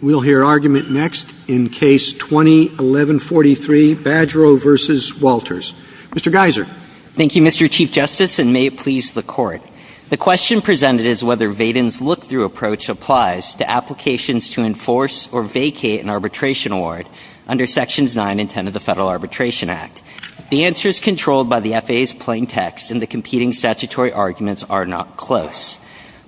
We'll hear argument next in Case 20-1143, Badgerow v. Walters. Mr. Geiser. Thank you, Mr. Chief Justice, and may it please the Court. The question presented is whether Vaden's look-through approach applies to applications to enforce or vacate an arbitration award under Sections 9 and 10 of the Federal Arbitration Act. The answers controlled by the FAA's plaintext and the competing statutory arguments are not close.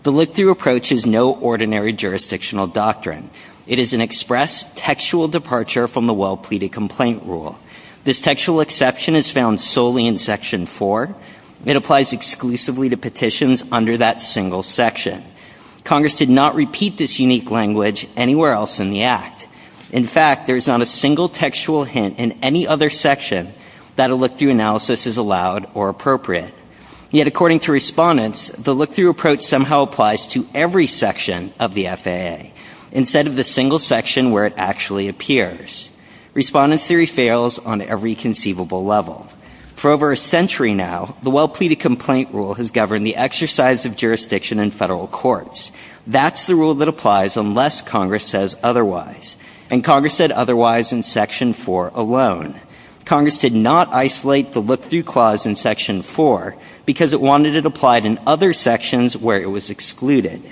The look-through approach is no ordinary jurisdictional doctrine. It is an express, textual departure from the well-pleaded complaint rule. This textual exception is found solely in Section 4. It applies exclusively to petitions under that single section. Congress did not repeat this unique language anywhere else in the Act. In fact, there is not a single textual hint in any other section that a look-through analysis is allowed or appropriate. Yet according to Respondents, the look-through approach somehow applies to every section of the FAA instead of the single section where it actually appears. Respondents' theory fails on every conceivable level. For over a century now, the well-pleaded complaint rule has governed the exercise of jurisdiction in Federal courts. That's the rule that applies unless Congress says otherwise. And Congress said otherwise in Section 4 alone. Congress did not isolate the look-through clause in Section 4 because it wanted it applied in other sections where it was excluded.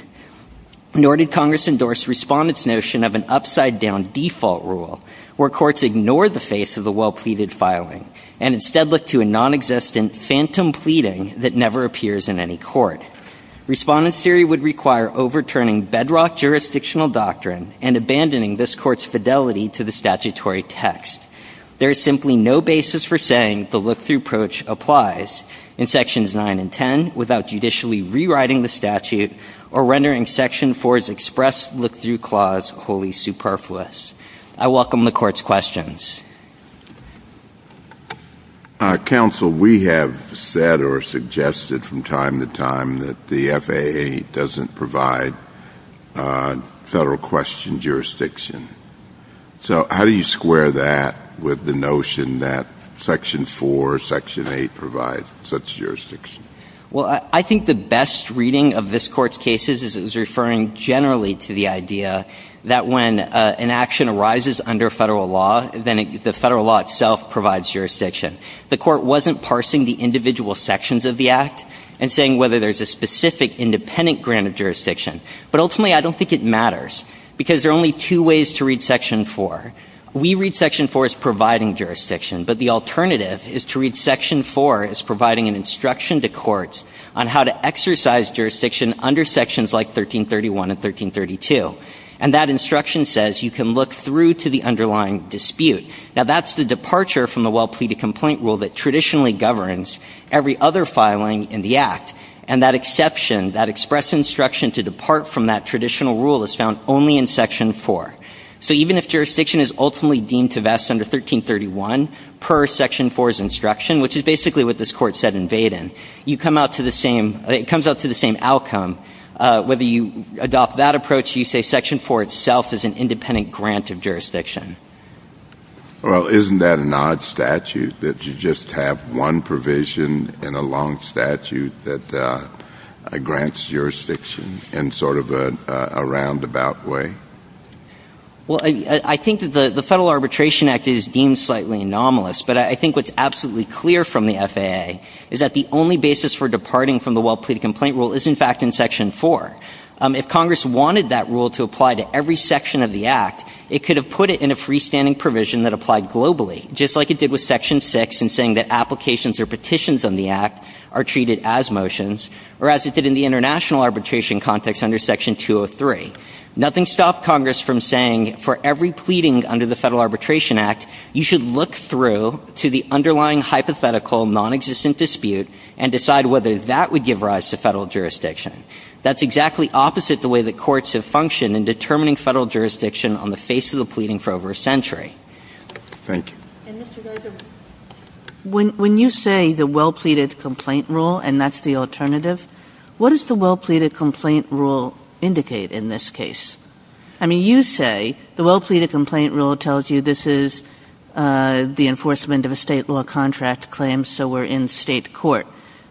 Nor did Congress endorse Respondents' notion of an upside-down default rule where courts ignore the face of the well-pleaded filing and instead look to a nonexistent phantom pleading that never appears in any court. Respondents' theory would require overturning bedrock jurisdictional doctrine and abandoning this Court's fidelity to the statutory text. There is simply no basis for saying the look-through approach applies in Sections 9 and 10 without judicially rewriting the statute or rendering Section 4's express look-through clause wholly superfluous. I welcome the Court's questions. JUSTICE KENNEDY. Counsel, we have said or suggested from time to time that the FAA doesn't provide Federal question jurisdiction. So how do you square that with the notion that Section 4 or Section 8 provides such jurisdiction? MR. CLEMENT. Well, I think the best reading of this Court's cases is it was referring generally to the idea that when an action arises under Federal law, then the Federal law itself provides jurisdiction. The Court wasn't parsing the individual sections of the Act and saying whether there's a specific independent grant of jurisdiction. But ultimately, I don't think it matters because there are only two ways to read Section 4. We read Section 4 as providing jurisdiction, but the alternative is to read Section 4 as providing an instruction to courts on how to exercise jurisdiction under sections like 1331 and 1332. And that instruction says you can look through to the underlying dispute. Now, that's the departure from the well-pleaded complaint rule that traditionally governs every other filing in the Act. And that exception, that express instruction to depart from that traditional rule, is found only in Section 4. So even if jurisdiction is ultimately deemed to vest under 1331 per Section 4's instruction, which is basically what this Court said in Vaden, you come out to the same – it comes out to the same outcome. Whether you adopt that approach, you say Section 4 itself is an independent grant of jurisdiction. JUSTICE ALITOE-CORTEZ. Well, isn't that an odd statute that you just have one provision in a long statute that grants jurisdiction in sort of a roundabout way? MR. CLEMENT. Well, I think that the Federal Arbitration Act is deemed slightly anomalous, but I think what's absolutely clear from the FAA is that the only basis for departing from the well-pleaded complaint rule is, in fact, in Section 4. If Congress wanted that rule to apply to every section of the Act, it could have put it in a freestanding provision that applied globally, just like it did with Section 6 in saying that applications or petitions on the Act are treated as motions, or as it did in the international arbitration context under Section 203. Nothing stopped Congress from saying, for every pleading under the Federal Arbitration Act, you should look through to the underlying hypothetical nonexistent dispute and decide whether that would give rise to Federal jurisdiction. That's exactly opposite the way that courts have functioned in determining Federal jurisdiction on the face of the pleading for over a century. JUSTICE ALITOE-CORTEZ. Thank you. And, Mr. Gosar, when you say the well-pleaded complaint rule, and that's the alternative, what does the well-pleaded complaint rule indicate in this case? I mean, you say the well-pleaded complaint rule tells you this is the enforcement of a State law contract claim, so we're in State court.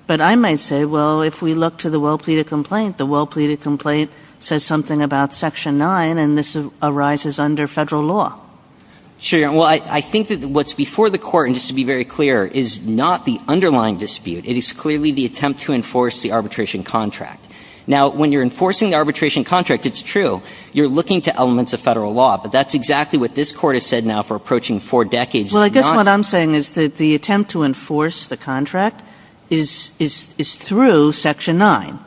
But I might say, well, if we look to the well-pleaded complaint, the well-pleaded complaint says something about Section 9, and this arises under Federal law. MR. GOSAR. Sure, Your Honor. Well, I think that what's before the Court, and just to be very clear, is not the underlying dispute. It is clearly the attempt to enforce the arbitration contract. Now, when you're enforcing the arbitration contract, it's true, you're looking to elements of Federal law. But that's exactly what this Court has said now for approaching four decades. It's not the other way around. KAGAN. Well, I guess what I'm saying is that the attempt to enforce the contract is through Section 9.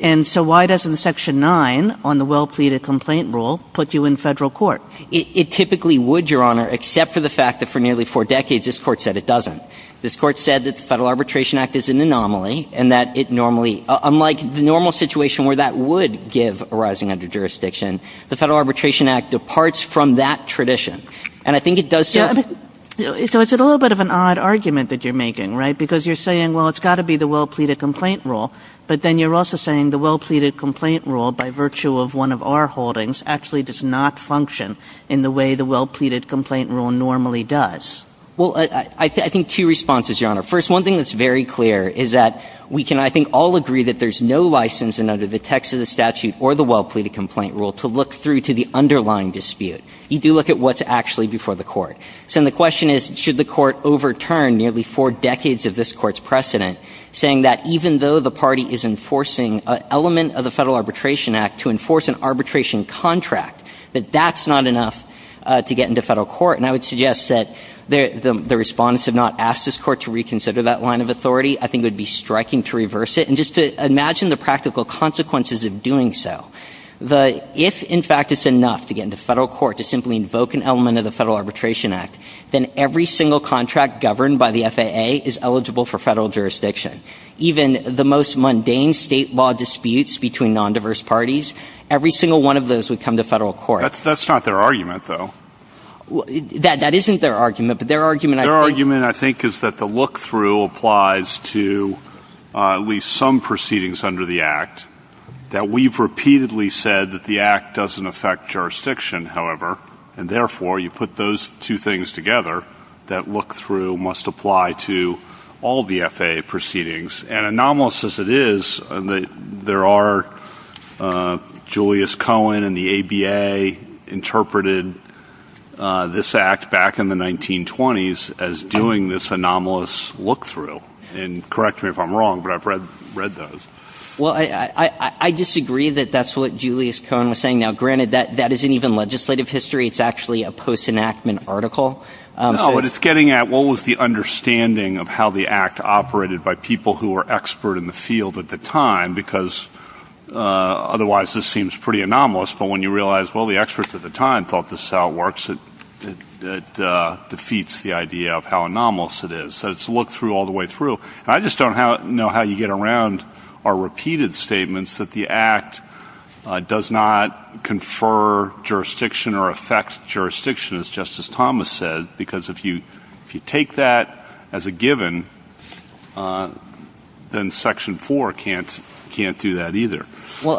And so why doesn't Section 9 on the well-pleaded complaint rule put you in Federal court? MR. GOSAR. It typically would, Your Honor, except for the fact that for nearly four decades this Court said it doesn't. This Court said that the Federal Arbitration Act is an anomaly and that it normally – unlike the normal situation where that would give a rising under jurisdiction, the Federal Arbitration Act departs from that tradition. And I think it does so. KAGAN. So it's a little bit of an odd argument that you're making, right? Because you're saying, well, it's got to be the well-pleaded complaint rule. But then you're also saying the well-pleaded complaint rule, by virtue of one of our holdings, actually does not function in the way the well-pleaded complaint rule normally does. MR. GOSAR. Well, I think two responses, Your Honor. First, one thing that's very clear is that we can, I think, all agree that there's no license under the text of the statute or the well-pleaded complaint rule to look through to the underlying dispute. You do look at what's actually before the court. So then the question is, should the court overturn nearly four decades of this Court's precedent, saying that even though the party is enforcing an element of the Federal Arbitration Act to enforce an arbitration contract, that that's not enough to get into Federal court? And I would suggest that the Respondents have not asked this Court to reconsider that line of authority. I think it would be striking to reverse it. And just to imagine the practical consequences of doing so. If, in fact, it's enough to get into Federal court to simply invoke an element of the Federal Arbitration Act, then every single contract governed by the FAA is eligible for Federal jurisdiction. Even the most mundane state law disputes between nondiverse parties, every single one of those would come to Federal court. That's not their argument, though. That isn't their argument. But their argument, I think — Their argument, I think, is that the look-through applies to at least some proceedings under the Act, that we've repeatedly said that the Act doesn't affect jurisdiction, however. And therefore, you put those two things together, that look-through must apply to all of the FAA proceedings. And anomalous as it is, there are — Julius Cohen and the ABA interpreted this Act back in the 1920s as doing this anomalous look-through. And correct me if I'm wrong, but I've read those. Well, I disagree that that's what Julius Cohen was saying. Now, granted, that isn't even legislative history. It's actually a post-enactment article. No, but it's getting at what was the understanding of how the Act operated by people who were expert in the field at the time, because otherwise this seems pretty anomalous. But when you realize, well, the experts at the time thought this is how it works, it defeats the idea of how anomalous it is. So it's a look-through all the way through. And I just don't know how you get around our repeated statements that the Act does not confer jurisdiction or affect jurisdiction, as Justice Thomas said. Because if you take that as a given, then Section 4 can't do that either. Well,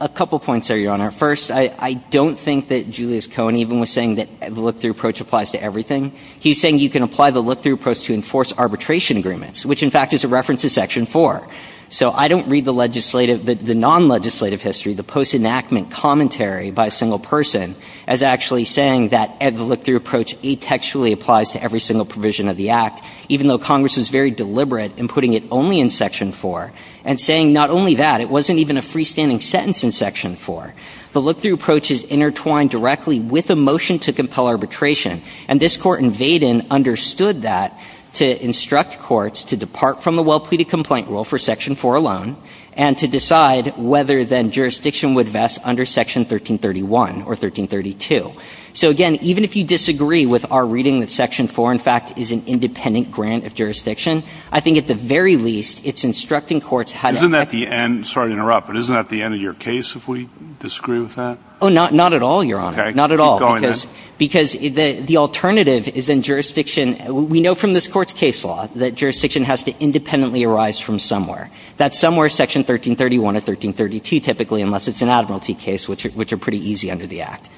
a couple points there, Your Honor. First, I don't think that Julius Cohen even was saying that the look-through approach applies to everything. He's saying you can apply the look-through approach to enforce arbitration agreements, which in fact is a reference to Section 4. So I don't read the legislative, the non-legislative history, the post-enactment commentary by a single person as actually saying that the look-through approach atextually applies to every single provision of the Act, even though Congress was very deliberate in putting it only in Section 4. And saying not only that, it wasn't even a freestanding sentence in Section 4. The look-through approach is intertwined directly with a motion to compel arbitration. And this Court in Vaden understood that to instruct courts to depart from the well-pleaded complaint rule for Section 4 alone and to decide whether then jurisdiction would vest under Section 1331 or 1332. So, again, even if you disagree with our reading that Section 4, in fact, is an independent grant of jurisdiction, I think at the very least it's instructing courts how to act. Isn't that the end? Sorry to interrupt, but isn't that the end of your case if we disagree with that? Oh, not at all, Your Honor. Okay. Keep going then. Not at all, because the alternative is then jurisdiction. We know from this Court's case law that jurisdiction has to independently arise from somewhere. That somewhere is Section 1331 or 1332 typically, unless it's an admiralty case, which are pretty easy under the Act.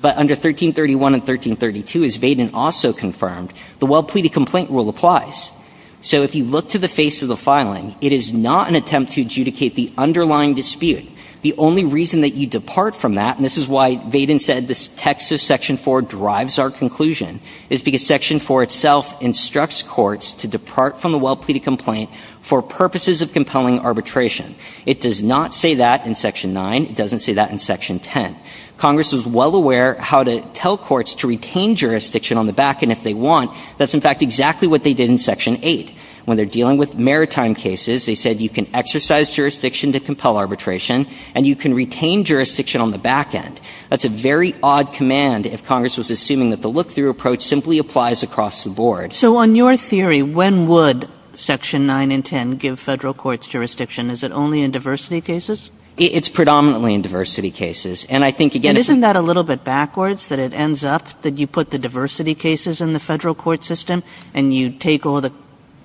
But under 1331 and 1332, as Vaden also confirmed, the well-pleaded complaint rule applies. So if you look to the face of the filing, it is not an attempt to adjudicate the underlying dispute. The only reason that you depart from that, and this is why Vaden said this text of Section 4 drives our conclusion, is because Section 4 itself instructs courts to depart from a well-pleaded complaint for purposes of compelling arbitration. It does not say that in Section 9. It doesn't say that in Section 10. Congress is well aware how to tell courts to retain jurisdiction on the back end if they want. That's, in fact, exactly what they did in Section 8. When they're dealing with maritime cases, they said you can exercise jurisdiction to compel arbitration, and you can retain jurisdiction on the back end. That's a very odd command if Congress was assuming that the look-through approach simply applies across the board. Kagan. So on your theory, when would Section 9 and 10 give Federal courts jurisdiction? Is it only in diversity cases? It's predominantly in diversity cases. And I think, again, if you ---- But isn't that a little bit backwards, that it ends up that you put the diversity cases in the Federal court system, and you take all the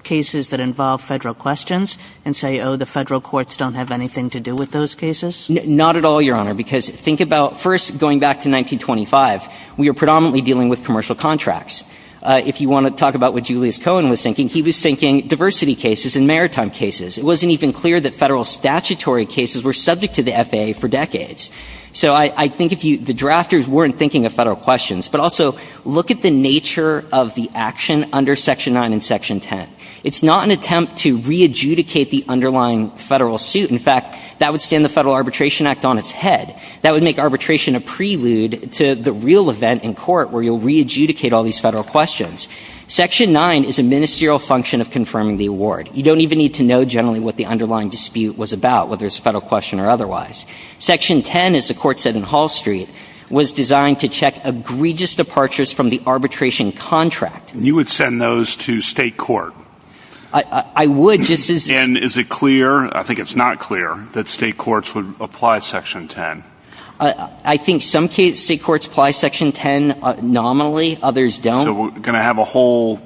cases that involve Federal questions and say, oh, the Federal courts don't have anything to do with those cases? Not at all, Your Honor, because think about first going back to 1925. We were predominantly dealing with commercial contracts. If you want to talk about what Julius Cohen was thinking, he was thinking diversity cases and maritime cases. It wasn't even clear that Federal statutory cases were subject to the FAA for decades. So I think if you ---- the drafters weren't thinking of Federal questions. But also, look at the nature of the action under Section 9 and Section 10. It's not an attempt to re-adjudicate the underlying Federal suit. In fact, that would stand the Federal Arbitration Act on its head. That would make arbitration a prelude to the real event in court where you'll re-adjudicate all these Federal questions. Section 9 is a ministerial function of confirming the award. You don't even need to know generally what the underlying dispute was about, whether it's a Federal question or otherwise. Section 10, as the Court said in Hall Street, was designed to check egregious departures from the arbitration contract. You would send those to State court? I would, just as ---- And is it clear? I think it's not clear that State courts would apply Section 10. I think some State courts apply Section 10 nominally. Others don't. So we're going to have a whole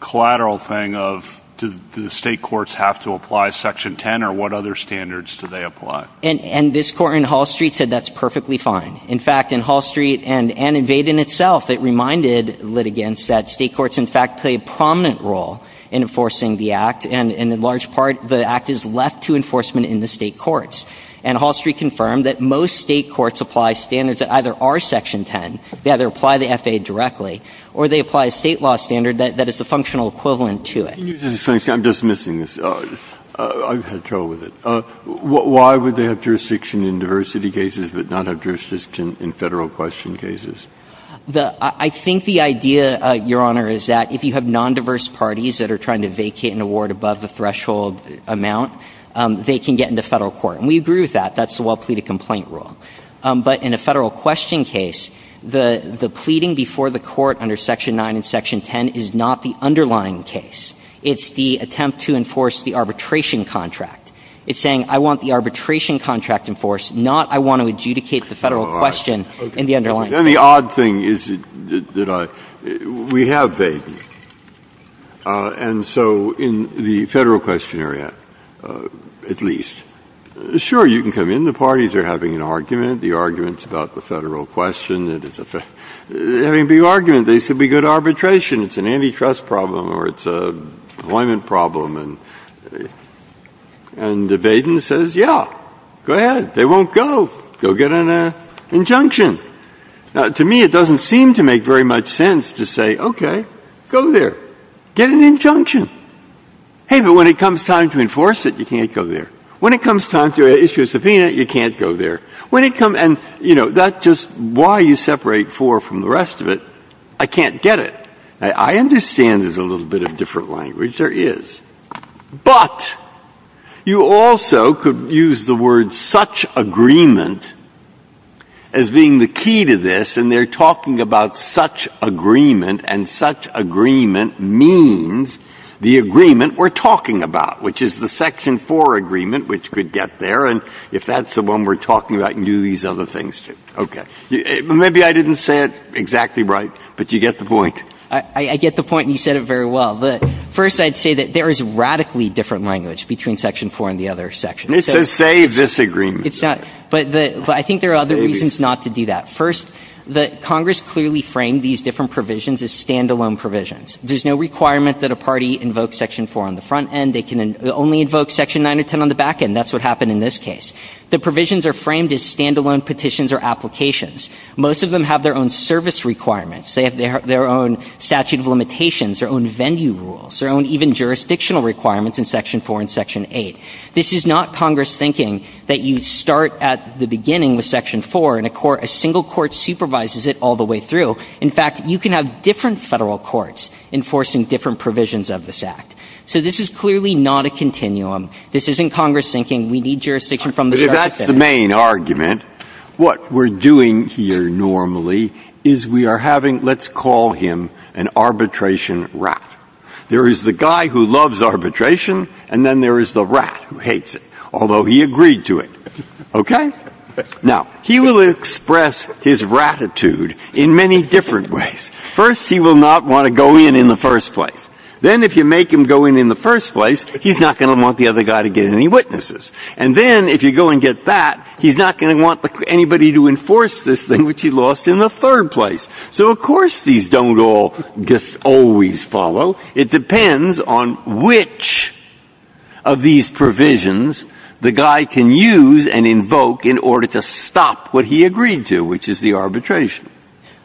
collateral thing of do the State courts have to apply Section 10 or what other standards do they apply? And this Court in Hall Street said that's perfectly fine. In fact, in Hall Street and in Vade in itself, it reminded litigants that State courts in fact play a prominent role in enforcing the Act. And in large part, the Act is left to enforcement in the State courts. And Hall Street confirmed that most State courts apply standards that either are Section 10, they either apply the FAA directly, or they apply a State law standard that is a functional equivalent to it. I'm just missing this. I've had trouble with it. Why would they have jurisdiction in diversity cases but not have jurisdiction in Federal question cases? I think the idea, Your Honor, is that if you have nondiverse parties that are trying to vacate an award above the threshold amount, they can get into Federal court. And we agree with that. That's the well-pleaded complaint rule. But in a Federal question case, the pleading before the Court under Section 9 and Section 10 is not the underlying case. It's the attempt to enforce the arbitration contract. It's saying I want the arbitration contract enforced, not I want to adjudicate the Federal question in the underlying case. And the odd thing is that I — we have Vaden. And so in the Federal question area, at least, sure, you can come in. The parties are having an argument. The argument's about the Federal question. They're having a big argument. They said we got arbitration. It's an antitrust problem or it's an employment problem. And Vaden says, yeah, go ahead. They won't go. Go get an injunction. Now, to me, it doesn't seem to make very much sense to say, okay, go there. Get an injunction. Hey, but when it comes time to enforce it, you can't go there. When it comes time to issue a subpoena, you can't go there. When it comes — and, you know, that's just why you separate four from the rest of it. I can't get it. I understand there's a little bit of different language. There is. But you also could use the word such agreement as being the key to this, and they're talking about such agreement, and such agreement means the agreement we're talking about, which is the Section 4 agreement, which could get there. And if that's the one we're talking about, you can do these other things, too. Okay. Maybe I didn't say it exactly right, but you get the point. I get the point, and you said it very well. First, I'd say that there is radically different language between Section 4 and the other sections. It's a say-disagreement. It's not. But I think there are other reasons not to do that. First, Congress clearly framed these different provisions as stand-alone provisions. There's no requirement that a party invoke Section 4 on the front end. They can only invoke Section 9 or 10 on the back end. That's what happened in this case. The provisions are framed as stand-alone petitions or applications. Most of them have their own service requirements. They have their own statute of limitations, their own venue rules, their own even jurisdictional requirements in Section 4 and Section 8. This is not Congress thinking that you start at the beginning with Section 4 and a single court supervises it all the way through. In fact, you can have different Federal courts enforcing different provisions of this Act. So this is clearly not a continuum. This isn't Congress thinking we need jurisdiction from the start. And that's the main argument. What we're doing here normally is we are having, let's call him an arbitration rat. There is the guy who loves arbitration, and then there is the rat who hates it, although he agreed to it. Okay? Now, he will express his ratitude in many different ways. First, he will not want to go in in the first place. Then if you make him go in in the first place, he's not going to want the other guy to get any witnesses. And then if you go and get that, he's not going to want anybody to enforce this thing, which he lost in the third place. So of course these don't all just always follow. It depends on which of these provisions the guy can use and invoke in order to stop what he agreed to, which is the arbitration.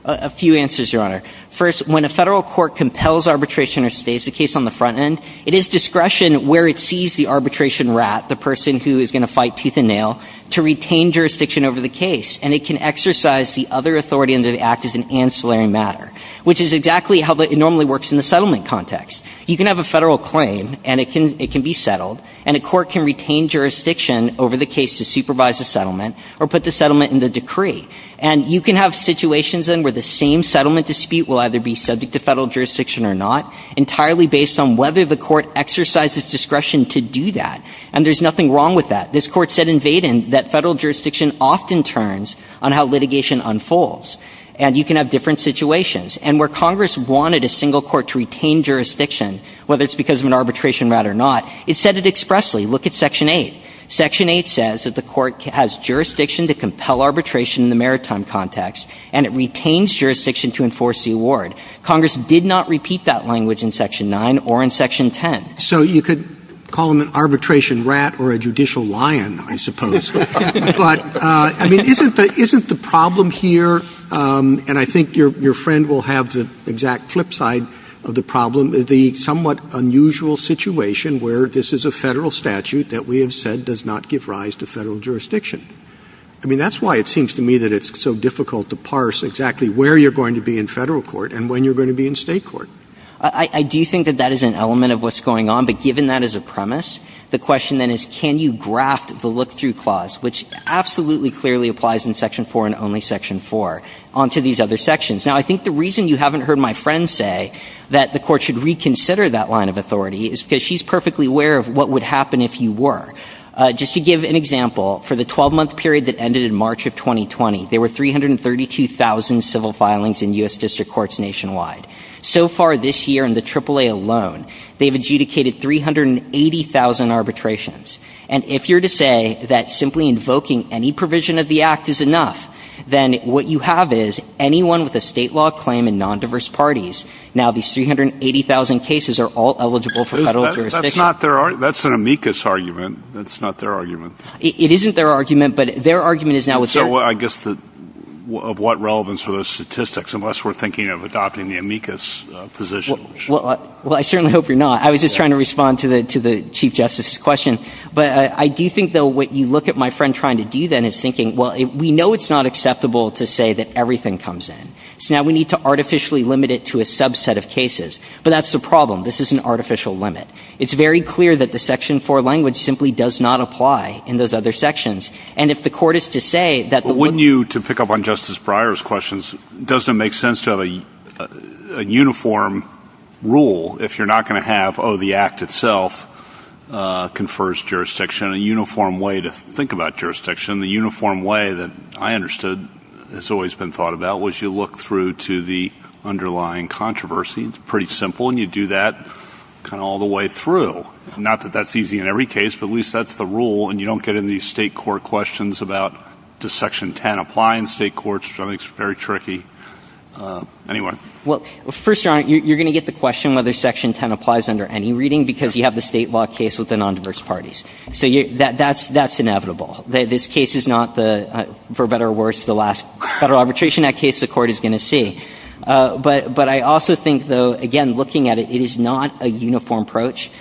A few answers, Your Honor. First, when a Federal court compels arbitration or stays, the case on the front end, it is discretion where it sees the arbitration rat, the person who is going to fight tooth and nail, to retain jurisdiction over the case. And it can exercise the other authority under the Act as an ancillary matter, which is exactly how it normally works in the settlement context. You can have a Federal claim, and it can be settled, and a court can retain jurisdiction over the case to supervise the settlement or put the settlement in the decree. And you can have situations, then, where the same settlement dispute will either be subject to Federal jurisdiction or not, entirely based on whether the court exercises discretion to do that. And there's nothing wrong with that. This Court said in Vaden that Federal jurisdiction often turns on how litigation unfolds. And you can have different situations. And where Congress wanted a single court to retain jurisdiction, whether it's because of an arbitration rat or not, it said it expressly. Look at Section 8. Section 8 says that the Court has jurisdiction to compel arbitration in the maritime context, and it retains jurisdiction to enforce the award. Congress did not repeat that language in Section 9 or in Section 10. Roberts. So you could call them an arbitration rat or a judicial lion, I suppose. But, I mean, isn't the problem here, and I think your friend will have the exact flip side of the problem, the somewhat unusual situation where this is a Federal statute that we have said does not give rise to Federal jurisdiction. I mean, that's why it seems to me that it's so difficult to parse exactly where you're going to be in Federal court and when you're going to be in State court. I do think that that is an element of what's going on. But given that as a premise, the question then is can you graft the look-through clause, which absolutely clearly applies in Section 4 and only Section 4, onto these other sections. Now, I think the reason you haven't heard my friend say that the Court should reconsider that line of authority is because she's perfectly aware of what would happen if you were. Just to give an example, for the 12-month period that ended in March of 2020, there were 332,000 civil filings in U.S. District Courts nationwide. So far this year in the AAA alone, they've adjudicated 380,000 arbitrations. And if you're to say that simply invoking any provision of the Act is enough, then what you have is anyone with a State law claim in nondiverse parties, now these 380,000 cases are all eligible for Federal jurisdiction. That's not their argument. That's an amicus argument. That's not their argument. It isn't their argument, but their argument is now what's their argument. So I guess of what relevance are those statistics, unless we're thinking of adopting the amicus position? Well, I certainly hope you're not. I was just trying to respond to the Chief Justice's question. But I do think, though, what you look at my friend trying to do then is thinking, well, we know it's not acceptable to say that everything comes in. So now we need to artificially limit it to a subset of cases. But that's the problem. This is an artificial limit. It's very clear that the Section 4 language simply does not apply in those other sections. And if the Court is to say that the one ---- But wouldn't you, to pick up on Justice Breyer's questions, doesn't it make sense to have a uniform rule if you're not going to have, oh, the Act itself confers jurisdiction, a uniform way to think about jurisdiction? The uniform way that I understood has always been thought about was you look through to the underlying controversy. It's pretty simple. And you do that kind of all the way through. Not that that's easy in every case, but at least that's the rule. And you don't get into these state court questions about does Section 10 apply in state courts, which I think is very tricky. Anyway. Well, first, Your Honor, you're going to get the question whether Section 10 applies under any reading because you have the state law case with the non-diverse parties. So that's inevitable. This case is not, for better or worse, the last Federal Arbitration Act case the Court is going to see. But I also think, though, again, looking at it, it is not a uniform approach.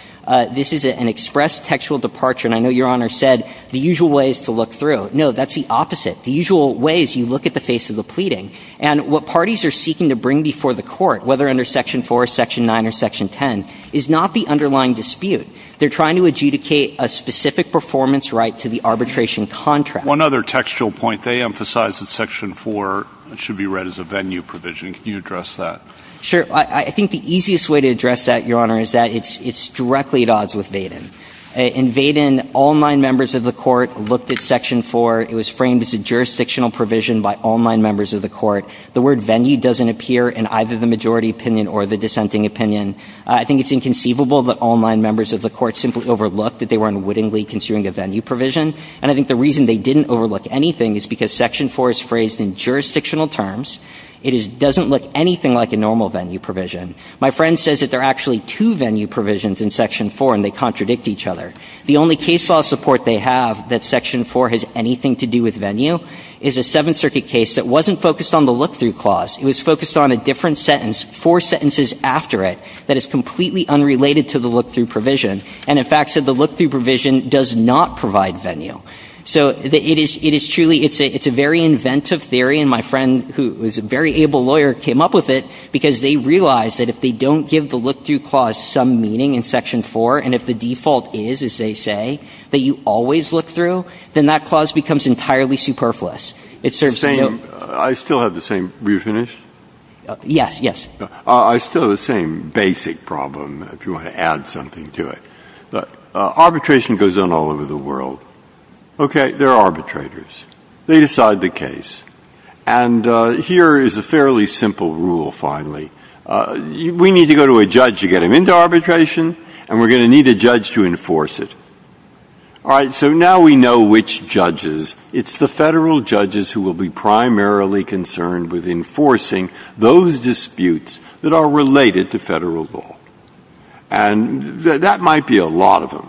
This is an express textual departure. And I know Your Honor said the usual way is to look through. No, that's the opposite. The usual way is you look at the face of the pleading. And what parties are seeking to bring before the Court, whether under Section 4, Section 9, or Section 10, is not the underlying dispute. They're trying to adjudicate a specific performance right to the arbitration contract. One other textual point. They emphasize that Section 4 should be read as a venue provision. Can you address that? Sure. I think the easiest way to address that, Your Honor, is that it's directly at odds with Vaden. In Vaden, all nine members of the Court looked at Section 4. It was framed as a jurisdictional provision by all nine members of the Court. The word venue doesn't appear in either the majority opinion or the dissenting opinion. I think it's inconceivable that all nine members of the Court simply overlooked that they were unwittingly considering a venue provision. And I think the reason they didn't overlook anything is because Section 4 is phrased in jurisdictional terms. It doesn't look anything like a normal venue provision. My friend says that there are actually two venue provisions in Section 4, and they contradict each other. The only case law support they have that Section 4 has anything to do with venue is a Seventh Circuit case that wasn't focused on the look-through clause. It was focused on a different sentence, four sentences after it, that is completely unrelated to the look-through provision, and in fact said the look-through provision does not provide venue. So it is truly – it's a very inventive theory, and my friend, who is a very able lawyer, came up with it because they realized that if they don't give the look-through clause some meaning in Section 4, and if the default is, as they say, that you always look through, then that clause becomes entirely superfluous. It serves no purpose. Breyer. I still have the same – were you finished? Yes, yes. I still have the same basic problem, if you want to add something to it. Arbitration goes on all over the world. Okay, there are arbitrators. They decide the case. And here is a fairly simple rule, finally. We need to go to a judge to get him into arbitration, and we're going to need a judge to enforce it. All right. So now we know which judges. It's the Federal judges who will be primarily concerned with enforcing those disputes that are related to Federal law. And that might be a lot of them.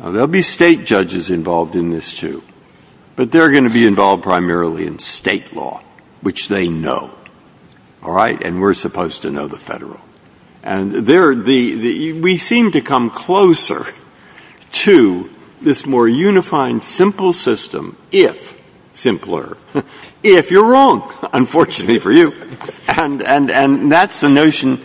Now, there will be State judges involved in this, too, but they're going to be involved primarily in State law, which they know. All right. And we're supposed to know the Federal. And there are the – we seem to come closer to this more unifying, simple system if – simpler – if you're wrong, unfortunately for you. And that's the notion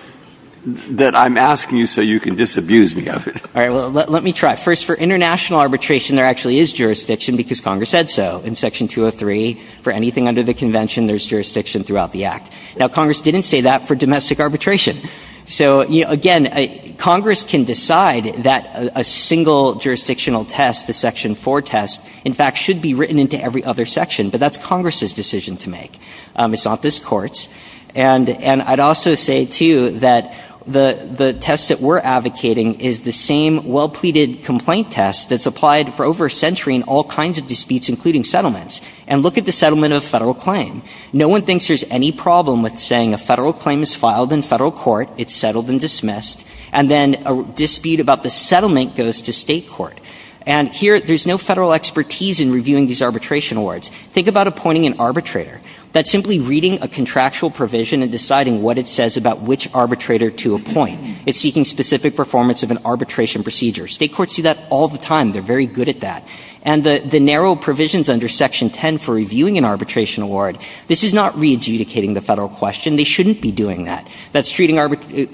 that I'm asking you so you can disabuse me of it. All right. Well, let me try. First, for international arbitration, there actually is jurisdiction, because Congress said so. In Section 203, for anything under the Convention, there's jurisdiction throughout the Act. Now, Congress didn't say that for domestic arbitration. So, again, Congress can decide that a single jurisdictional test, the Section 4 test, in fact, should be written into every other section. But that's Congress's decision to make. It's not this Court's. And I'd also say, too, that the test that we're advocating is the same well-pleaded complaint test that's applied for over a century in all kinds of disputes, including settlements. And look at the settlement of a Federal claim. No one thinks there's any problem with saying a Federal claim is filed in Federal court, it's settled and dismissed, and then a dispute about the settlement goes to State court. And here, there's no Federal expertise in reviewing these arbitration awards. Think about appointing an arbitrator. That's simply reading a contractual provision and deciding what it says about which arbitrator to appoint. It's seeking specific performance of an arbitration procedure. State courts do that all the time. They're very good at that. And the narrow provisions under Section 10 for reviewing an arbitration award, this is not re-adjudicating the Federal question. They shouldn't be doing that. That's treating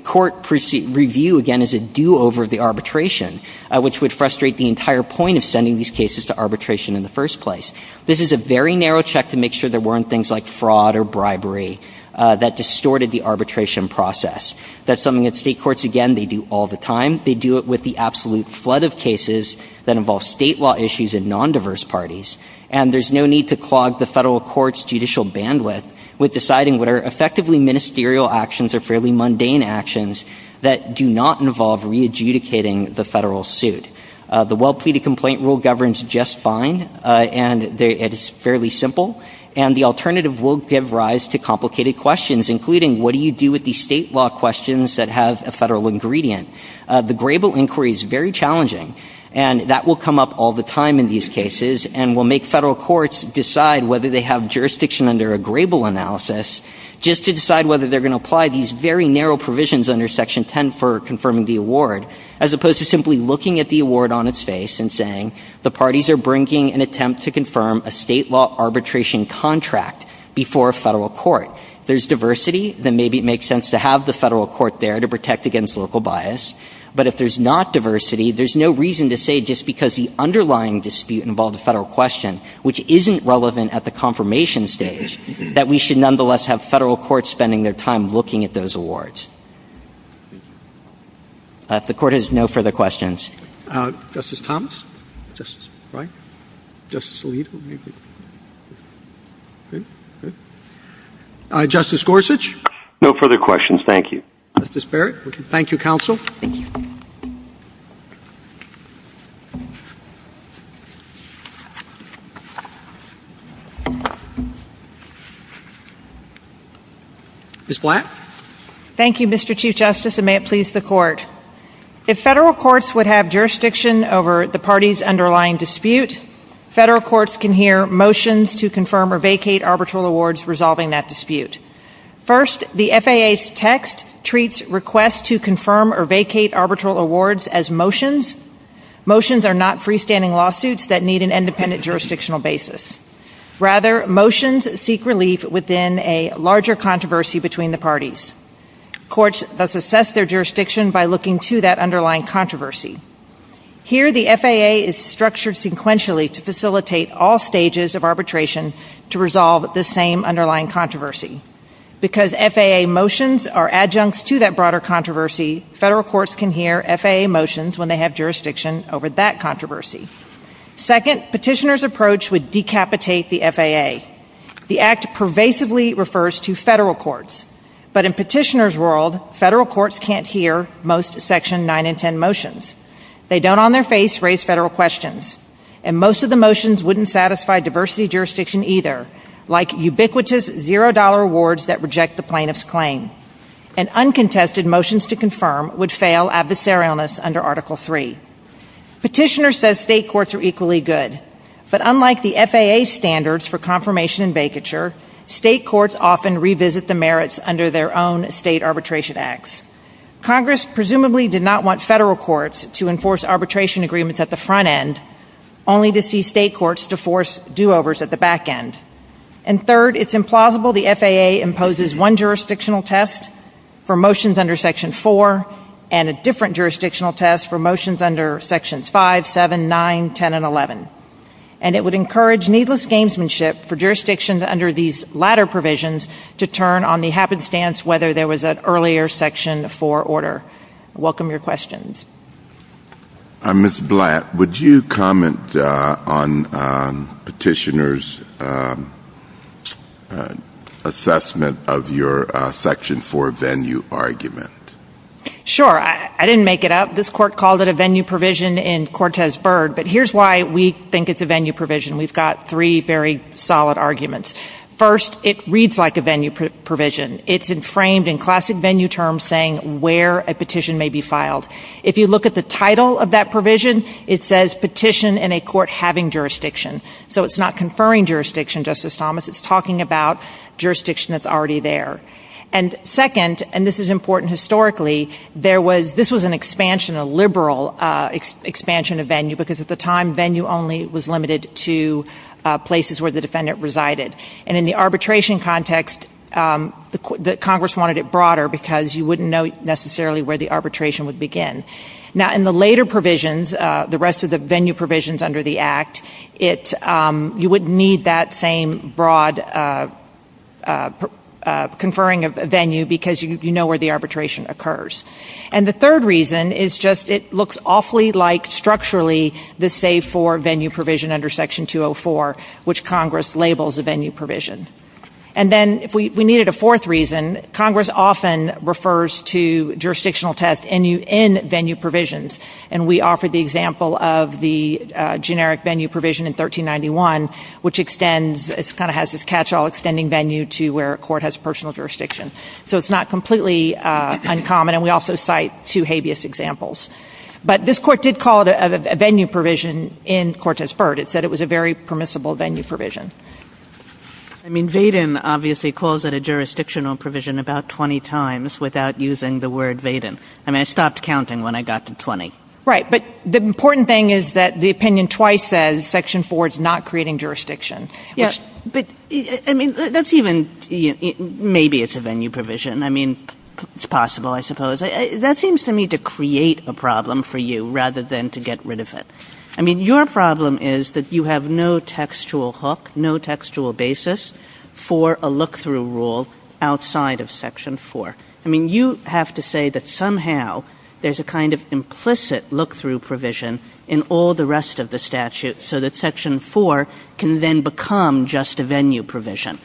court review, again, as a do-over of the arbitration, which would frustrate the entire point of sending these cases to arbitration in the first place. This is a very narrow check to make sure there weren't things like fraud or bribery that distorted the arbitration process. That's something that State courts, again, they do all the time. They do it with the absolute flood of cases that involve State law issues and nondiverse parties. And there's no need to clog the Federal court's judicial bandwidth with deciding what are effectively ministerial actions or fairly mundane actions that do not involve re-adjudicating the Federal suit. The well-pleaded complaint rule governs just fine. And it is fairly simple. And the alternative will give rise to complicated questions, including what do you do with these State law questions that have a Federal ingredient? The Grable inquiry is very challenging. And that will come up all the time in these cases and will make Federal courts decide whether they have jurisdiction under a Grable analysis just to decide whether they're going to apply these very narrow provisions under Section 10 for confirming the award. As opposed to simply looking at the award on its face and saying, the parties are bringing an attempt to confirm a State law arbitration contract before a Federal court. If there's diversity, then maybe it makes sense to have the Federal court there to protect against local bias. But if there's not diversity, there's no reason to say just because the underlying dispute involved a Federal question, which isn't relevant at the confirmation stage, that we should nonetheless have Federal courts spending their time looking at those awards. The Court has no further questions. Justice Thomas? Justice Breyer? Justice Alito? Good. Good. Justice Gorsuch? No further questions. Thank you. Justice Barrett? Thank you, counsel. Thank you. Ms. Black? Thank you, Mr. Chief Justice, and may it please the Court. If Federal courts would have jurisdiction over the parties' underlying dispute, Federal courts can hear motions to confirm or vacate arbitral awards resolving that dispute. First, the FAA's text treats requests to confirm or vacate arbitral awards as motions. Motions are not freestanding lawsuits that need an independent jurisdictional basis. Rather, motions seek relief within a larger controversy between the parties. Courts thus assess their jurisdiction by looking to that underlying controversy. Here, the FAA is structured sequentially to facilitate all stages of arbitration to resolve the same underlying controversy. Because FAA motions are adjuncts to that broader controversy, Federal courts can hear FAA motions when they have jurisdiction over that controversy. Second, Petitioners' approach would decapitate the FAA. The Act pervasively refers to Federal courts. But in Petitioners' world, Federal courts can't hear most Section 9 and 10 motions. They don't on their face raise Federal questions. And most of the motions wouldn't satisfy diversity jurisdiction either, like ubiquitous zero-dollar awards that reject the plaintiff's claim. And uncontested motions to confirm would fail adversarialness under Article 3. Petitioners says State courts are equally good. But unlike the FAA's standards for confirmation and vacature, State courts often revisit the merits under their own State arbitration acts. Congress presumably did not want Federal courts to enforce arbitration agreements at the front end, only to see State courts to force do-overs at the back end. And third, it's implausible the FAA imposes one jurisdictional test for motions under Section 4 and a different jurisdictional test for motions under Sections 5, 7, 9, 10, and 11. And it would encourage needless gamesmanship for jurisdictions under these latter provisions to turn on the happenstance whether there was an earlier Section 4 order. I welcome your questions. Ms. Blatt, would you comment on Petitioner's assessment of your Section 4 venue argument? Sure. I didn't make it up. This Court called it a venue provision in Cortez-Byrd. But here's why we think it's a venue provision. We've got three very solid arguments. First, it reads like a venue provision. It's framed in classic venue terms saying where a petition may be filed. If you look at the title of that provision, it says petition in a court having jurisdiction. So it's not conferring jurisdiction, Justice Thomas. It's talking about jurisdiction that's already there. And second, and this is important historically, this was an expansion, a liberal expansion of venue because at the time venue only was limited to places where the defendant resided. And in the arbitration context, Congress wanted it broader because you wouldn't know necessarily where the arbitration would begin. Now, in the later provisions, the rest of the venue provisions under the Act, you wouldn't need that same broad conferring of venue because you know where the arbitration occurs. And the third reason is just it looks awfully like structurally the Save 4 venue provision under Section 204, which Congress labels a venue provision. And then if we needed a fourth reason, Congress often refers to jurisdictional tests in venue provisions. And we offered the example of the generic venue provision in 1391, which extends – it kind of has this catch-all extending venue to where a court has personal jurisdiction. So it's not completely uncommon. And we also cite two habeas examples. But this Court did call it a venue provision in Cortez-Bird. It said it was a very permissible venue provision. I mean, Vaden obviously calls it a jurisdictional provision about 20 times without using the word Vaden. I mean, I stopped counting when I got to 20. Right. But the important thing is that the opinion twice says Section 4 is not creating jurisdiction. Yeah. But, I mean, that's even – maybe it's a venue provision. I mean, it's possible, I suppose. That seems to me to create a problem for you rather than to get rid of it. I mean, your problem is that you have no textual hook, no textual basis for a look-through rule outside of Section 4. I mean, you have to say that somehow there's a kind of implicit look-through provision in all the rest of the statute so that Section 4 can then become just a venue provision.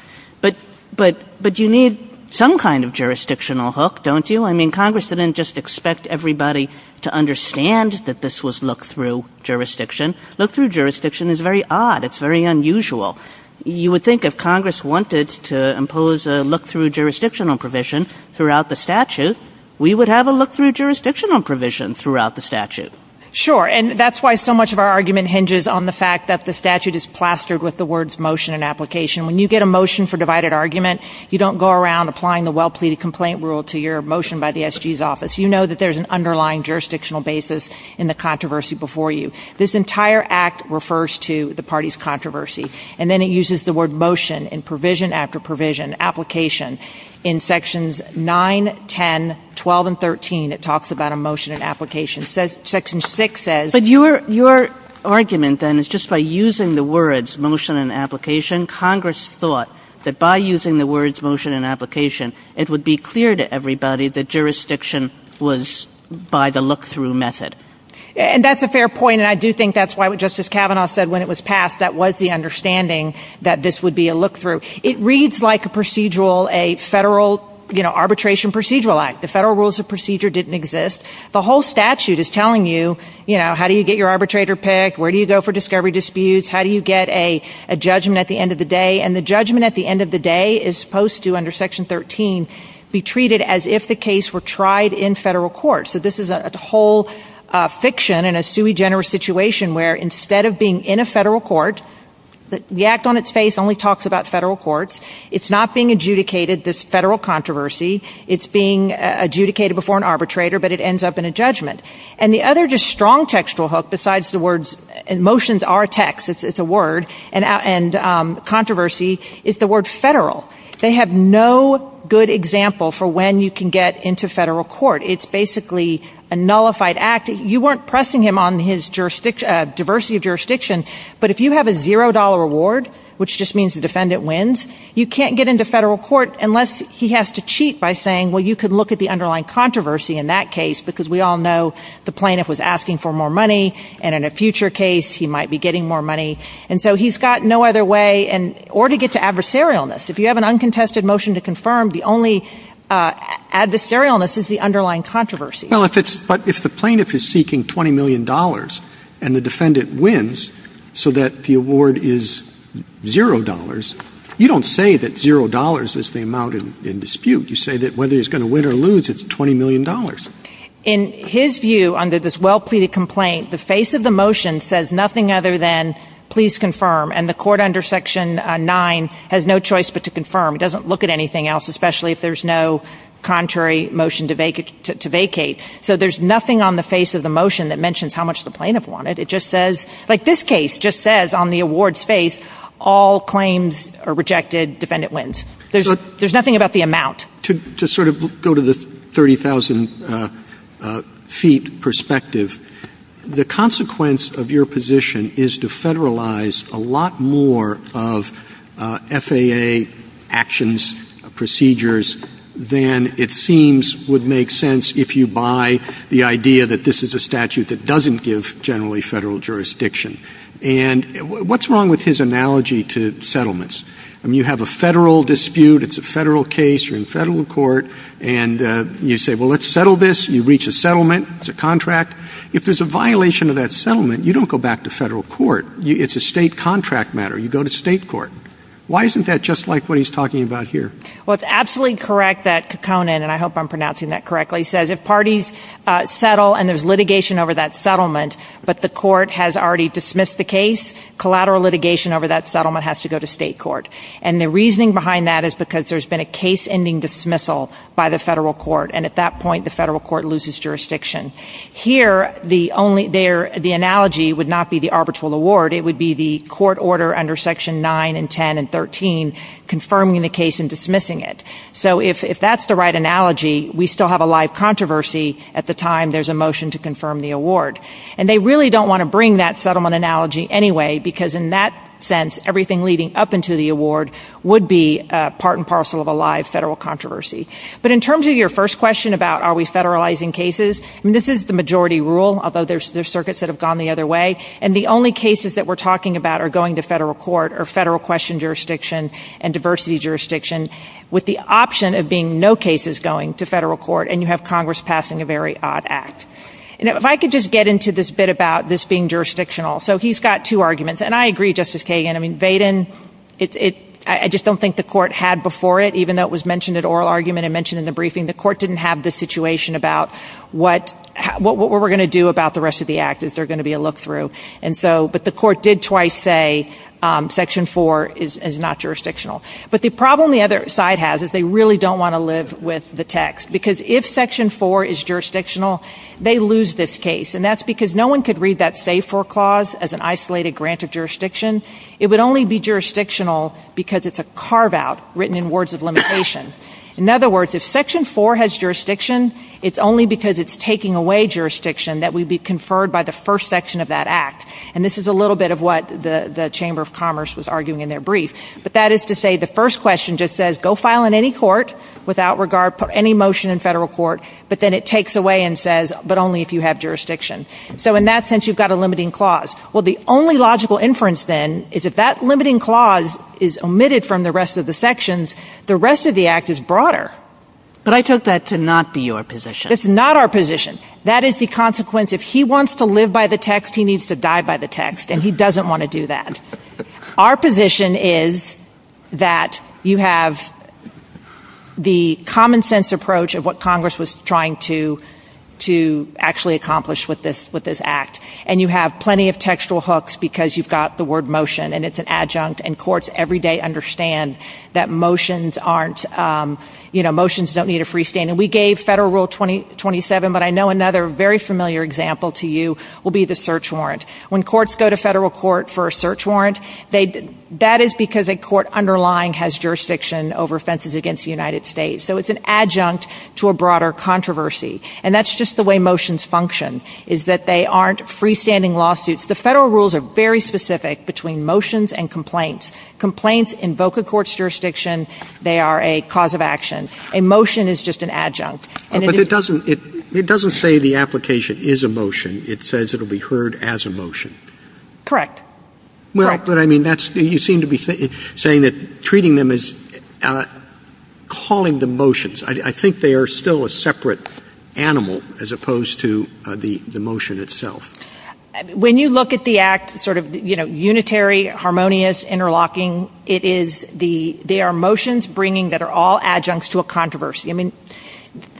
But you need some kind of jurisdictional hook, don't you? I mean, Congress didn't just expect everybody to understand that this was a look-through jurisdiction. Look-through jurisdiction is very odd. It's very unusual. You would think if Congress wanted to impose a look-through jurisdictional provision throughout the statute, we would have a look-through jurisdictional provision throughout the statute. Sure. And that's why so much of our argument hinges on the fact that the statute is plastered with the words motion and application. When you get a motion for divided argument, you don't go around applying the well-pleaded complaint rule to your motion by the SG's office. You know that there's an underlying jurisdictional basis in the controversy before you. This entire Act refers to the party's controversy. And then it uses the word motion in provision after provision, application. In Sections 9, 10, 12, and 13, it talks about a motion and application. Section 6 says ---- But your argument, then, is just by using the words motion and application, Congress thought that by using the words motion and application, it would be clear to everybody that jurisdiction was by the look-through method. And that's a fair point. And I do think that's why, just as Kavanaugh said when it was passed, that was the understanding that this would be a look-through. It reads like a procedural, a federal, you know, arbitration procedural Act. The federal rules of procedure didn't exist. The whole statute is telling you, you know, how do you get your arbitrator picked, where do you go for discovery disputes, how do you get a judgment at the end of the day. And the judgment at the end of the day is supposed to, under Section 13, be treated as if the case were tried in federal court. So this is a whole fiction in a sui generis situation where, instead of being in a federal court, the Act on its face only talks about federal courts. It's not being adjudicated, this federal controversy. It's being adjudicated before an arbitrator, but it ends up in a judgment. And the other just strong textual hook, besides the words ---- motions are a text, it's a word, and controversy is the word federal. They have no good example for when you can get into federal court. It's basically a nullified Act. You weren't pressing him on his diversity of jurisdiction, but if you have a $0 reward, which just means the defendant wins, you can't get into federal court unless he has to cheat by saying, well, you could look at the underlying controversy in that case because we all know the plaintiff was asking for more money, and so he's got no other way or to get to adversarialness. If you have an uncontested motion to confirm, the only adversarialness is the underlying controversy. Well, if it's ---- but if the plaintiff is seeking $20 million and the defendant wins so that the award is $0, you don't say that $0 is the amount in dispute. You say that whether he's going to win or lose, it's $20 million. In his view, under this well-pleaded complaint, the face of the motion says nothing other than please confirm, and the court under Section 9 has no choice but to confirm. It doesn't look at anything else, especially if there's no contrary motion to vacate. So there's nothing on the face of the motion that mentions how much the plaintiff wanted. It just says, like this case just says on the award's face, all claims are rejected, defendant wins. There's nothing about the amount. To sort of go to the 30,000 feet perspective, the consequence of your position is to federalize a lot more of FAA actions, procedures, than it seems would make sense if you buy the idea that this is a statute that doesn't give generally Federal jurisdiction. And what's wrong with his analogy to settlements? I mean, you have a Federal dispute. It's a Federal case. You're in Federal court. And you say, well, let's settle this. You reach a settlement. It's a contract. If there's a violation of that settlement, you don't go back to Federal court. It's a State contract matter. You go to State court. Why isn't that just like what he's talking about here? Well, it's absolutely correct that Kekkonen, and I hope I'm pronouncing that correctly, says if parties settle and there's litigation over that settlement, but the court has already dismissed the case, collateral litigation over that settlement has to go to State court. And the reasoning behind that is because there's been a case-ending dismissal by the Federal court. And at that point, the Federal court loses jurisdiction. Here, the analogy would not be the arbitral award. It would be the court order under Section 9 and 10 and 13 confirming the case and dismissing it. So if that's the right analogy, we still have a live controversy at the time there's a motion to confirm the award. And they really don't want to bring that settlement analogy anyway, because in that sense, everything leading up into the award would be part and parcel of a live Federal controversy. But in terms of your first question about are we Federalizing cases, I mean, this is the majority rule, although there's circuits that have gone the other way. And the only cases that we're talking about are going to Federal court or Federal question jurisdiction and diversity jurisdiction, with the option of being no cases going to Federal court, and you have Congress passing a very odd act. And if I could just get into this bit about this being jurisdictional. So he's got two arguments. And I agree, Justice Kagan. I mean, Vaden, I just don't think the court had before it, even though it was mentioned at oral argument and mentioned in the briefing. The court didn't have the situation about what we're going to do about the rest of the act. Is there going to be a look-through? But the court did twice say Section 4 is not jurisdictional. But the problem the other side has is they really don't want to live with the text, because if Section 4 is jurisdictional, they lose this case. And that's because no one could read that save for clause as an isolated grant of jurisdiction. It would only be jurisdictional because it's a carve-out written in words of limitation. In other words, if Section 4 has jurisdiction, it's only because it's taking away jurisdiction that we be conferred by the first section of that act. And this is a little bit of what the Chamber of Commerce was arguing in their brief. But that is to say the first question just says go file in any court without regard, put any motion in Federal court, but then it takes away and says, but only if you have jurisdiction. So in that sense, you've got a limiting clause. Well, the only logical inference then is if that limiting clause is omitted from the rest of the sections, the rest of the act is broader. But I took that to not be your position. It's not our position. That is the consequence. If he wants to live by the text, he needs to die by the text, and he doesn't want to do that. Our position is that you have the common-sense approach of what Congress was trying to actually accomplish with this act. And you have plenty of textual hooks because you've got the word motion, and it's an adjunct. And courts every day understand that motions aren't, you know, motions don't need a free stand. And we gave Federal Rule 27, but I know another very familiar example to you will be the search warrant. When courts go to Federal court for a search warrant, that is because a court underlying has jurisdiction over offenses against the United States. So it's an adjunct to a broader controversy. And that's just the way motions function, is that they aren't freestanding lawsuits. The Federal rules are very specific between motions and complaints. Complaints invoke a court's jurisdiction. They are a cause of action. A motion is just an adjunct. But it doesn't say the application is a motion. It says it will be heard as a motion. Correct. Well, but I mean, you seem to be saying that treating them as calling them motions. I think they are still a separate animal as opposed to the motion itself. When you look at the act, sort of, you know, unitary, harmonious, interlocking, it is the ‑‑ they are motions bringing that are all adjuncts to a controversy. I mean,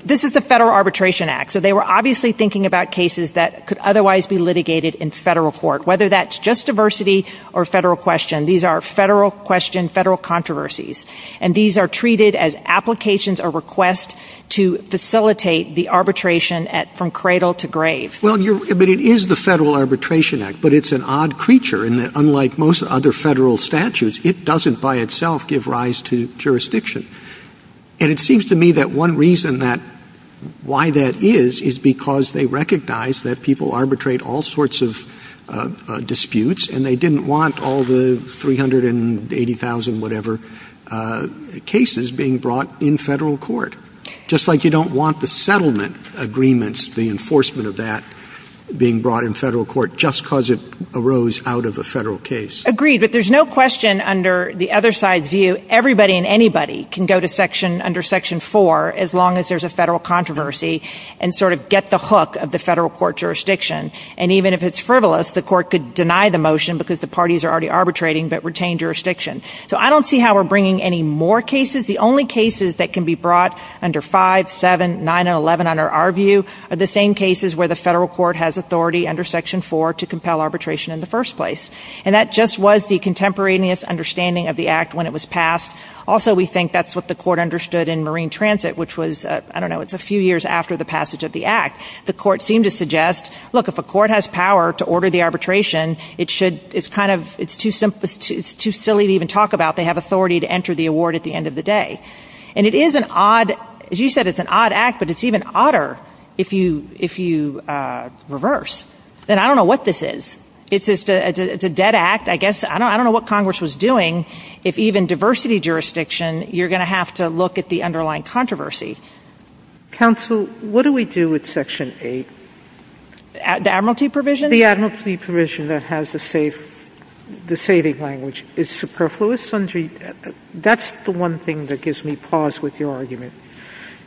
this is the Federal Arbitration Act. So they were obviously thinking about cases that could otherwise be litigated in Federal court. Whether that's just diversity or Federal question. These are Federal question, Federal controversies. And these are treated as applications or requests to facilitate the arbitration from cradle to grave. Well, but it is the Federal Arbitration Act. But it's an odd creature in that unlike most other Federal statutes, it doesn't by itself give rise to jurisdiction. And it seems to me that one reason that ‑‑ why that is, is because they arbitrate all sorts of disputes and they didn't want all the 380,000 whatever cases being brought in Federal court. Just like you don't want the settlement agreements, the enforcement of that being brought in Federal court just because it arose out of a Federal case. Agreed. But there's no question under the other side's view, everybody and anybody can go to section ‑‑ under section 4 as long as there's a Federal controversy and sort of get the hook of the Federal court jurisdiction. And even if it's frivolous, the court could deny the motion because the parties are already arbitrating but retain jurisdiction. So I don't see how we're bringing any more cases. The only cases that can be brought under 5, 7, 9 and 11 under our view are the same cases where the Federal court has authority under section 4 to compel arbitration in the first place. And that just was the contemporaneous understanding of the act when it was passed. Also we think that's what the court understood in Marine transit, which was ‑‑ I don't know, it's a few years after the passage of the act. The court seemed to suggest, look, if a court has power to order the arbitration, it should ‑‑ it's kind of ‑‑ it's too silly to even talk about. They have authority to enter the award at the end of the day. And it is an odd ‑‑ as you said, it's an odd act, but it's even odder if you ‑‑ if you reverse. And I don't know what this is. It's a dead act. I guess ‑‑ I don't know what Congress was doing. If even diversity jurisdiction, you're going to have to look at the controversy. Counsel, what do we do with section 8? The admiralty provision? The admiralty provision that has the saving language is superfluous. That's the one thing that gives me pause with your argument.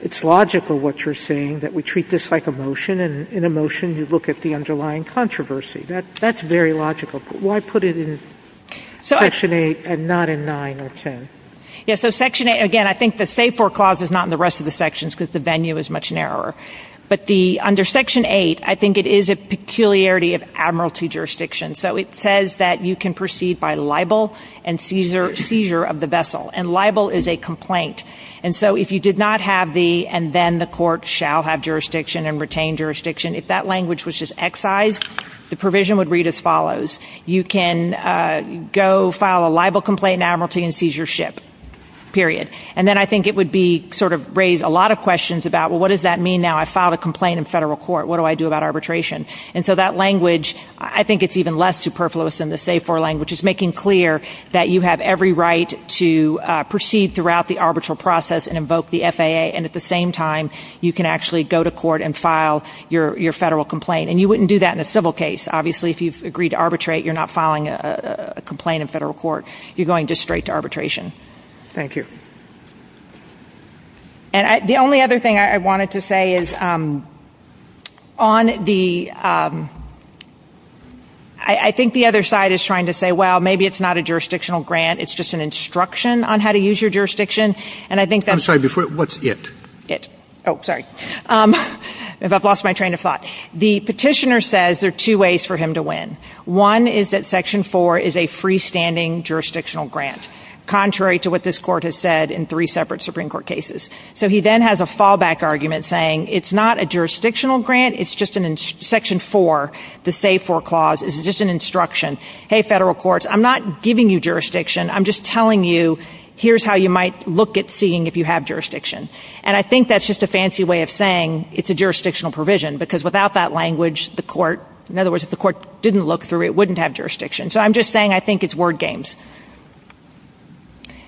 It's logical what you're saying, that we treat this like a motion, and in a motion you look at the underlying controversy. That's very logical. But why put it in section 8 and not in 9 or 10? Yeah, so section 8, again, I think the save for clause is not in the rest of the sections because the venue is much narrower. But the ‑‑ under section 8, I think it is a peculiarity of admiralty jurisdiction. So it says that you can proceed by libel and seizure of the vessel. And libel is a complaint. And so if you did not have the, and then the court shall have jurisdiction and retain jurisdiction, if that language was just excised, the provision would read as follows. You can go file a libel complaint in admiralty and seizure ship, period. And then I think it would be sort of raise a lot of questions about, well, what does that mean now? I filed a complaint in federal court. What do I do about arbitration? And so that language, I think it's even less superfluous than the save for language. It's making clear that you have every right to proceed throughout the arbitral process and invoke the FAA. And at the same time, you can actually go to court and file your federal complaint. And you wouldn't do that in a civil case, obviously, if you've agreed to arbitrate. You're not filing a complaint in federal court. You're going just straight to arbitration. Thank you. And the only other thing I wanted to say is on the, I think the other side is trying to say, well, maybe it's not a jurisdictional grant. It's just an instruction on how to use your jurisdiction. And I think that's. I'm sorry. What's it? It. Oh, sorry. I've lost my train of thought. The petitioner says there are two ways for him to win. One is that section four is a freestanding jurisdictional grant, contrary to what this court has said in three separate Supreme Court cases. So he then has a fallback argument saying it's not a jurisdictional grant. It's just in section four. The save for clause is just an instruction. Hey, federal courts, I'm not giving you jurisdiction. I'm just telling you here's how you might look at seeing if you have jurisdiction. And I think that's just a fancy way of saying it's a jurisdictional provision because without that language, the court, in other words, if it didn't look through, it wouldn't have jurisdiction. So I'm just saying I think it's word games.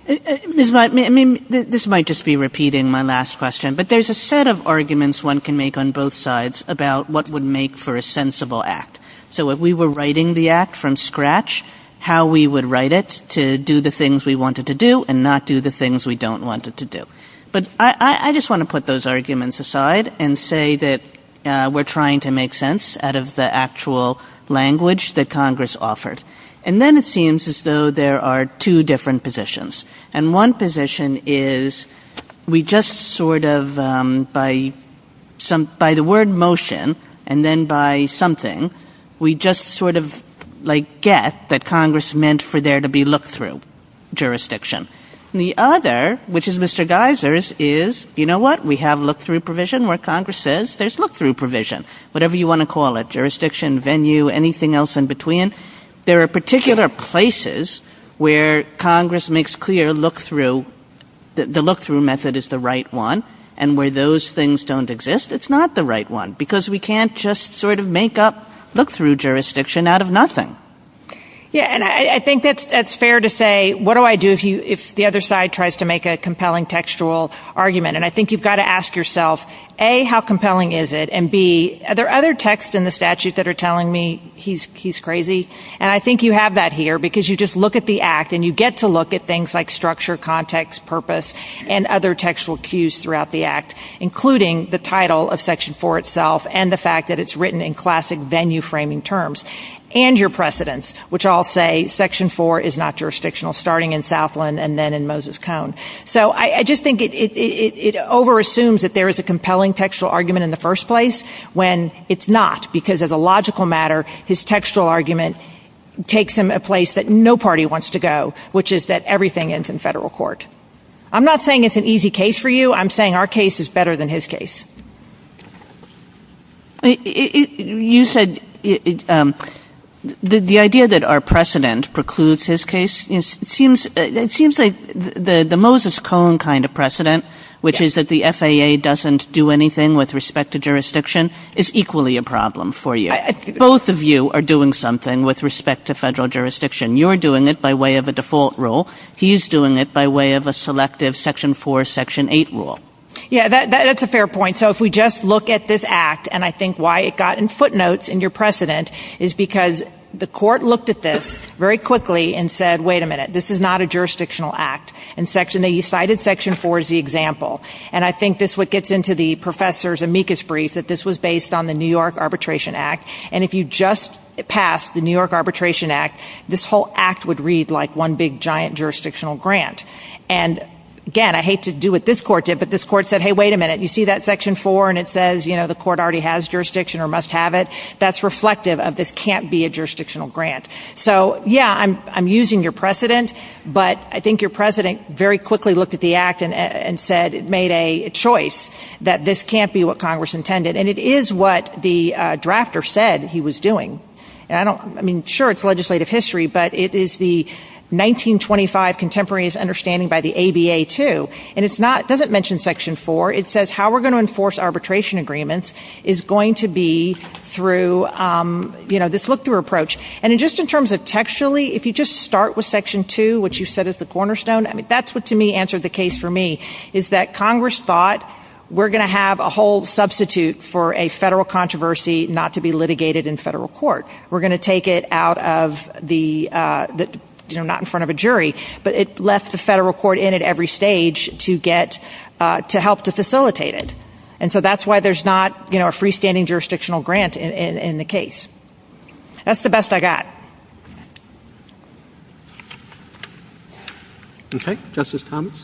Ms. Mott, I mean, this might just be repeating my last question, but there's a set of arguments one can make on both sides about what would make for a sensible act. So if we were writing the act from scratch, how we would write it to do the things we wanted to do and not do the things we don't want it to do. But I just want to put those arguments aside and say that we're trying to make sense out of the actual language that Congress offered. And then it seems as though there are two different positions. And one position is we just sort of, by the word motion and then by something, we just sort of, like, get that Congress meant for there to be look-through jurisdiction. And the other, which is Mr. Geiser's, is, you know what, we have look-through provision where Congress says there's look-through provision, whatever you want to call it, jurisdiction, venue, anything else in between. There are particular places where Congress makes clear look-through, the look-through method is the right one, and where those things don't exist, it's not the right one, because we can't just sort of make up look-through jurisdiction out of nothing. Yeah, and I think that's fair to say, what do I do if the other side tries to make a compelling textual argument? And I think you've got to ask yourself, A, how compelling is it? And, B, are there other texts in the statute that are telling me he's crazy? And I think you have that here, because you just look at the Act and you get to look at things like structure, context, purpose, and other textual cues throughout the Act, including the title of Section 4 itself and the fact that it's written in classic venue-framing terms, and your precedents, which all say Section 4 is not jurisdictional, starting in Southland and then in Moses Cone. So I just think it over-assumes that there is a compelling textual argument in the first place when it's not, because as a logical matter, his textual argument takes him a place that no party wants to go, which is that everything ends in federal court. I'm not saying it's an easy case for you. I'm saying our case is better than his case. You said the idea that our precedent precludes his case. It seems like the Moses Cone kind of precedent, which is that the FAA doesn't do anything with respect to jurisdiction, is equally a problem for you. Both of you are doing something with respect to federal jurisdiction. You're doing it by way of a default rule. He's doing it by way of a selective Section 4, Section 8 rule. Yeah, that's a fair point. So if we just look at this Act, and I think why it got in footnotes in your precedent is because the court looked at this very quickly and said, wait a minute, this is not a jurisdictional act. They cited Section 4 as the example. And I think this is what gets into the professor's amicus brief, that this was based on the New York Arbitration Act. And if you just pass the New York Arbitration Act, this whole act would read like one big, giant jurisdictional grant. And, again, I hate to do what this court did, but this court said, hey, wait a minute, you see that Section 4 and it says the court already has jurisdiction or must have it? That's reflective of this can't be a jurisdictional grant. So, yeah, I'm using your precedent, but I think your president very quickly looked at the Act and said it made a choice that this can't be what Congress intended. And it is what the drafter said he was doing. I mean, sure, it's legislative history, but it is the 1925 contemporaneous understanding by the ABA, too. And it doesn't mention Section 4. It says how we're going to enforce arbitration agreements is going to be through this look-through approach. And just in terms of textually, if you just start with Section 2, which you said is the cornerstone, I mean, that's what, to me, answered the case for me, is that Congress thought we're going to have a whole substitute for a federal controversy not to be litigated in federal court. We're going to take it out of the, you know, not in front of a jury, but it left the federal court in at every stage to get, to help to facilitate it. And so that's why there's not, you know, a freestanding jurisdictional grant in the case. That's the best I got. Okay. Justice Thomas.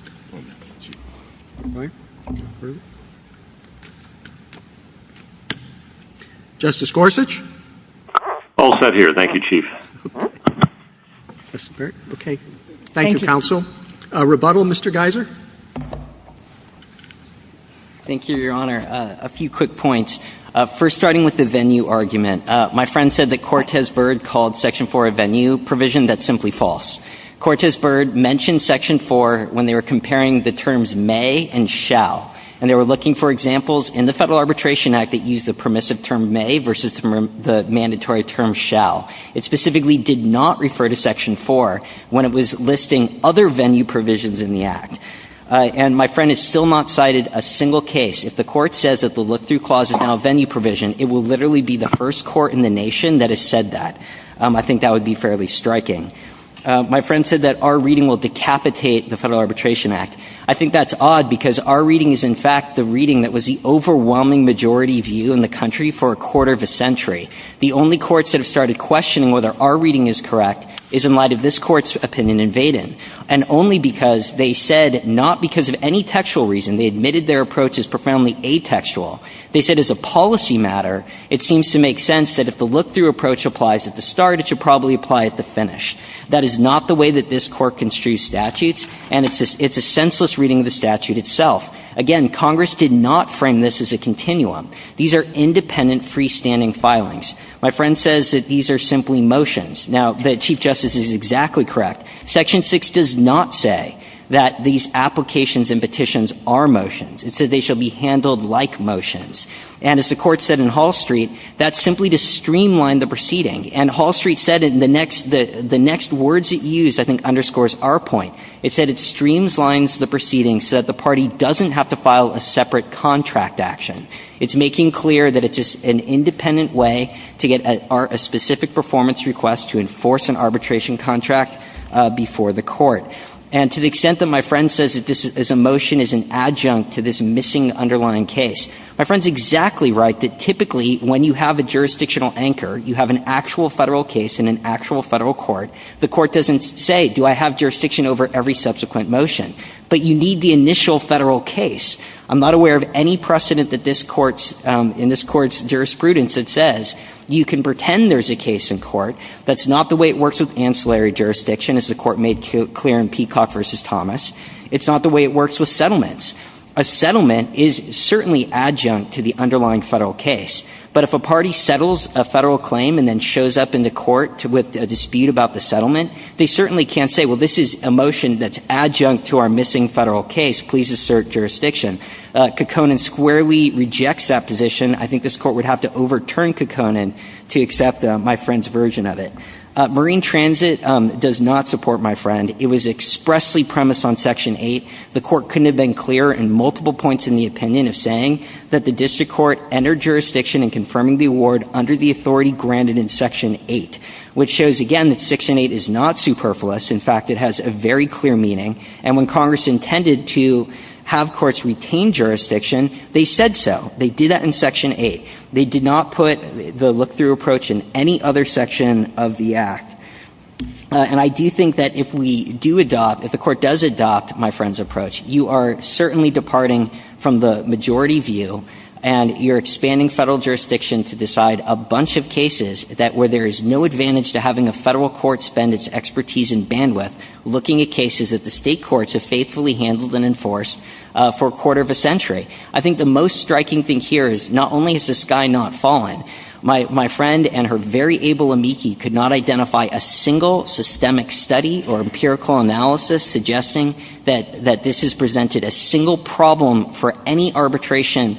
Justice Gorsuch. All set here. Thank you, Chief. Okay. Thank you, Counsel. A rebuttal, Mr. Geiser. Thank you, Your Honor. A few quick points. First, starting with the venue argument. My friend said that Cortes-Byrd called Section 4 a venue provision. That's simply false. Cortes-Byrd mentioned Section 4 when they were comparing the terms may and shall. And they were looking for examples in the Federal Arbitration Act that used the permissive term may versus the mandatory term shall. It specifically did not refer to Section 4 when it was listing other venue provisions in the Act. And my friend has still not cited a single case. If the Court says that the look-through clause is now a venue provision, it will literally be the first court in the nation that has said that. I think that would be fairly striking. My friend said that our reading will decapitate the Federal Arbitration Act. I think that's odd because our reading is, in fact, the reading that was the overwhelming majority view in the country for a quarter of a century. The only courts that have started questioning whether our reading is correct is in light of this Court's opinion in Vaden. And only because they said not because of any textual reason, they admitted their approach is profoundly atextual. They said as a policy matter, it seems to make sense that if the look-through approach applies at the start, it should probably apply at the finish. That is not the way that this Court construes statutes, and it's a senseless reading of the statute itself. Again, Congress did not frame this as a continuum. These are independent, freestanding filings. My friend says that these are simply motions. Now, the Chief Justice is exactly correct. Section 6 does not say that these applications and petitions are motions. It says they shall be handled like motions. And as the Court said in Hall Street, that's simply to streamline the proceeding. And Hall Street said in the next words it used I think underscores our point. It said it streamlines the proceedings so that the party doesn't have to file a separate contract action. It's making clear that it's an independent way to get a specific performance request to enforce an arbitration contract before the Court. And to the extent that my friend says that this is a motion as an adjunct to this missing underlying case, my friend is exactly right that typically when you have a jurisdictional anchor, you have an actual Federal case in an actual Federal court, the Court doesn't say do I have jurisdiction over every subsequent motion, but you need the initial Federal case. I'm not aware of any precedent that this Court's – in this Court's jurisprudence that says you can pretend there's a case in court that's not the way it works with ancillary jurisdiction, as the Court made clear in Peacock v. Thomas. It's not the way it works with settlements. A settlement is certainly adjunct to the underlying Federal case. But if a party settles a Federal claim and then shows up in the Court with a dispute about the settlement, they certainly can't say, well, this is a motion that's adjunct to our missing Federal case. Please assert jurisdiction. Kekkonen squarely rejects that position. I think this Court would have to overturn Kekkonen to accept my friend's version of it. Marine transit does not support, my friend. It was expressly premised on Section 8. The Court couldn't have been clearer in multiple points in the opinion of saying that the district court entered jurisdiction in confirming the award under the authority granted in Section 8, which shows, again, that Section 8 is not superfluous. In fact, it has a very clear meaning. And when Congress intended to have courts retain jurisdiction, they said so. They did that in Section 8. They did not put the look-through approach in any other section of the Act. And I do think that if we do adopt, if the Court does adopt my friend's approach, you are certainly departing from the majority view and you're expanding Federal jurisdiction to decide a bunch of cases that where there is no advantage to having a Federal court spend its expertise and bandwidth looking at cases that the State courts have faithfully handled and enforced for a quarter of a century. I think the most striking thing here is not only has the sky not fallen, my friend and her very able amici could not identify a single systemic study or empirical analysis suggesting that this has presented a single problem for any arbitration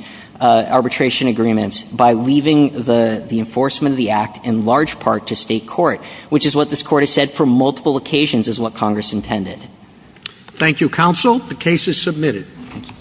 agreements by leaving the enforcement of the Act in large part to State court, which is what this Court has said for multiple occasions is what Congress intended. Thank you, counsel. The case is submitted. Thank you.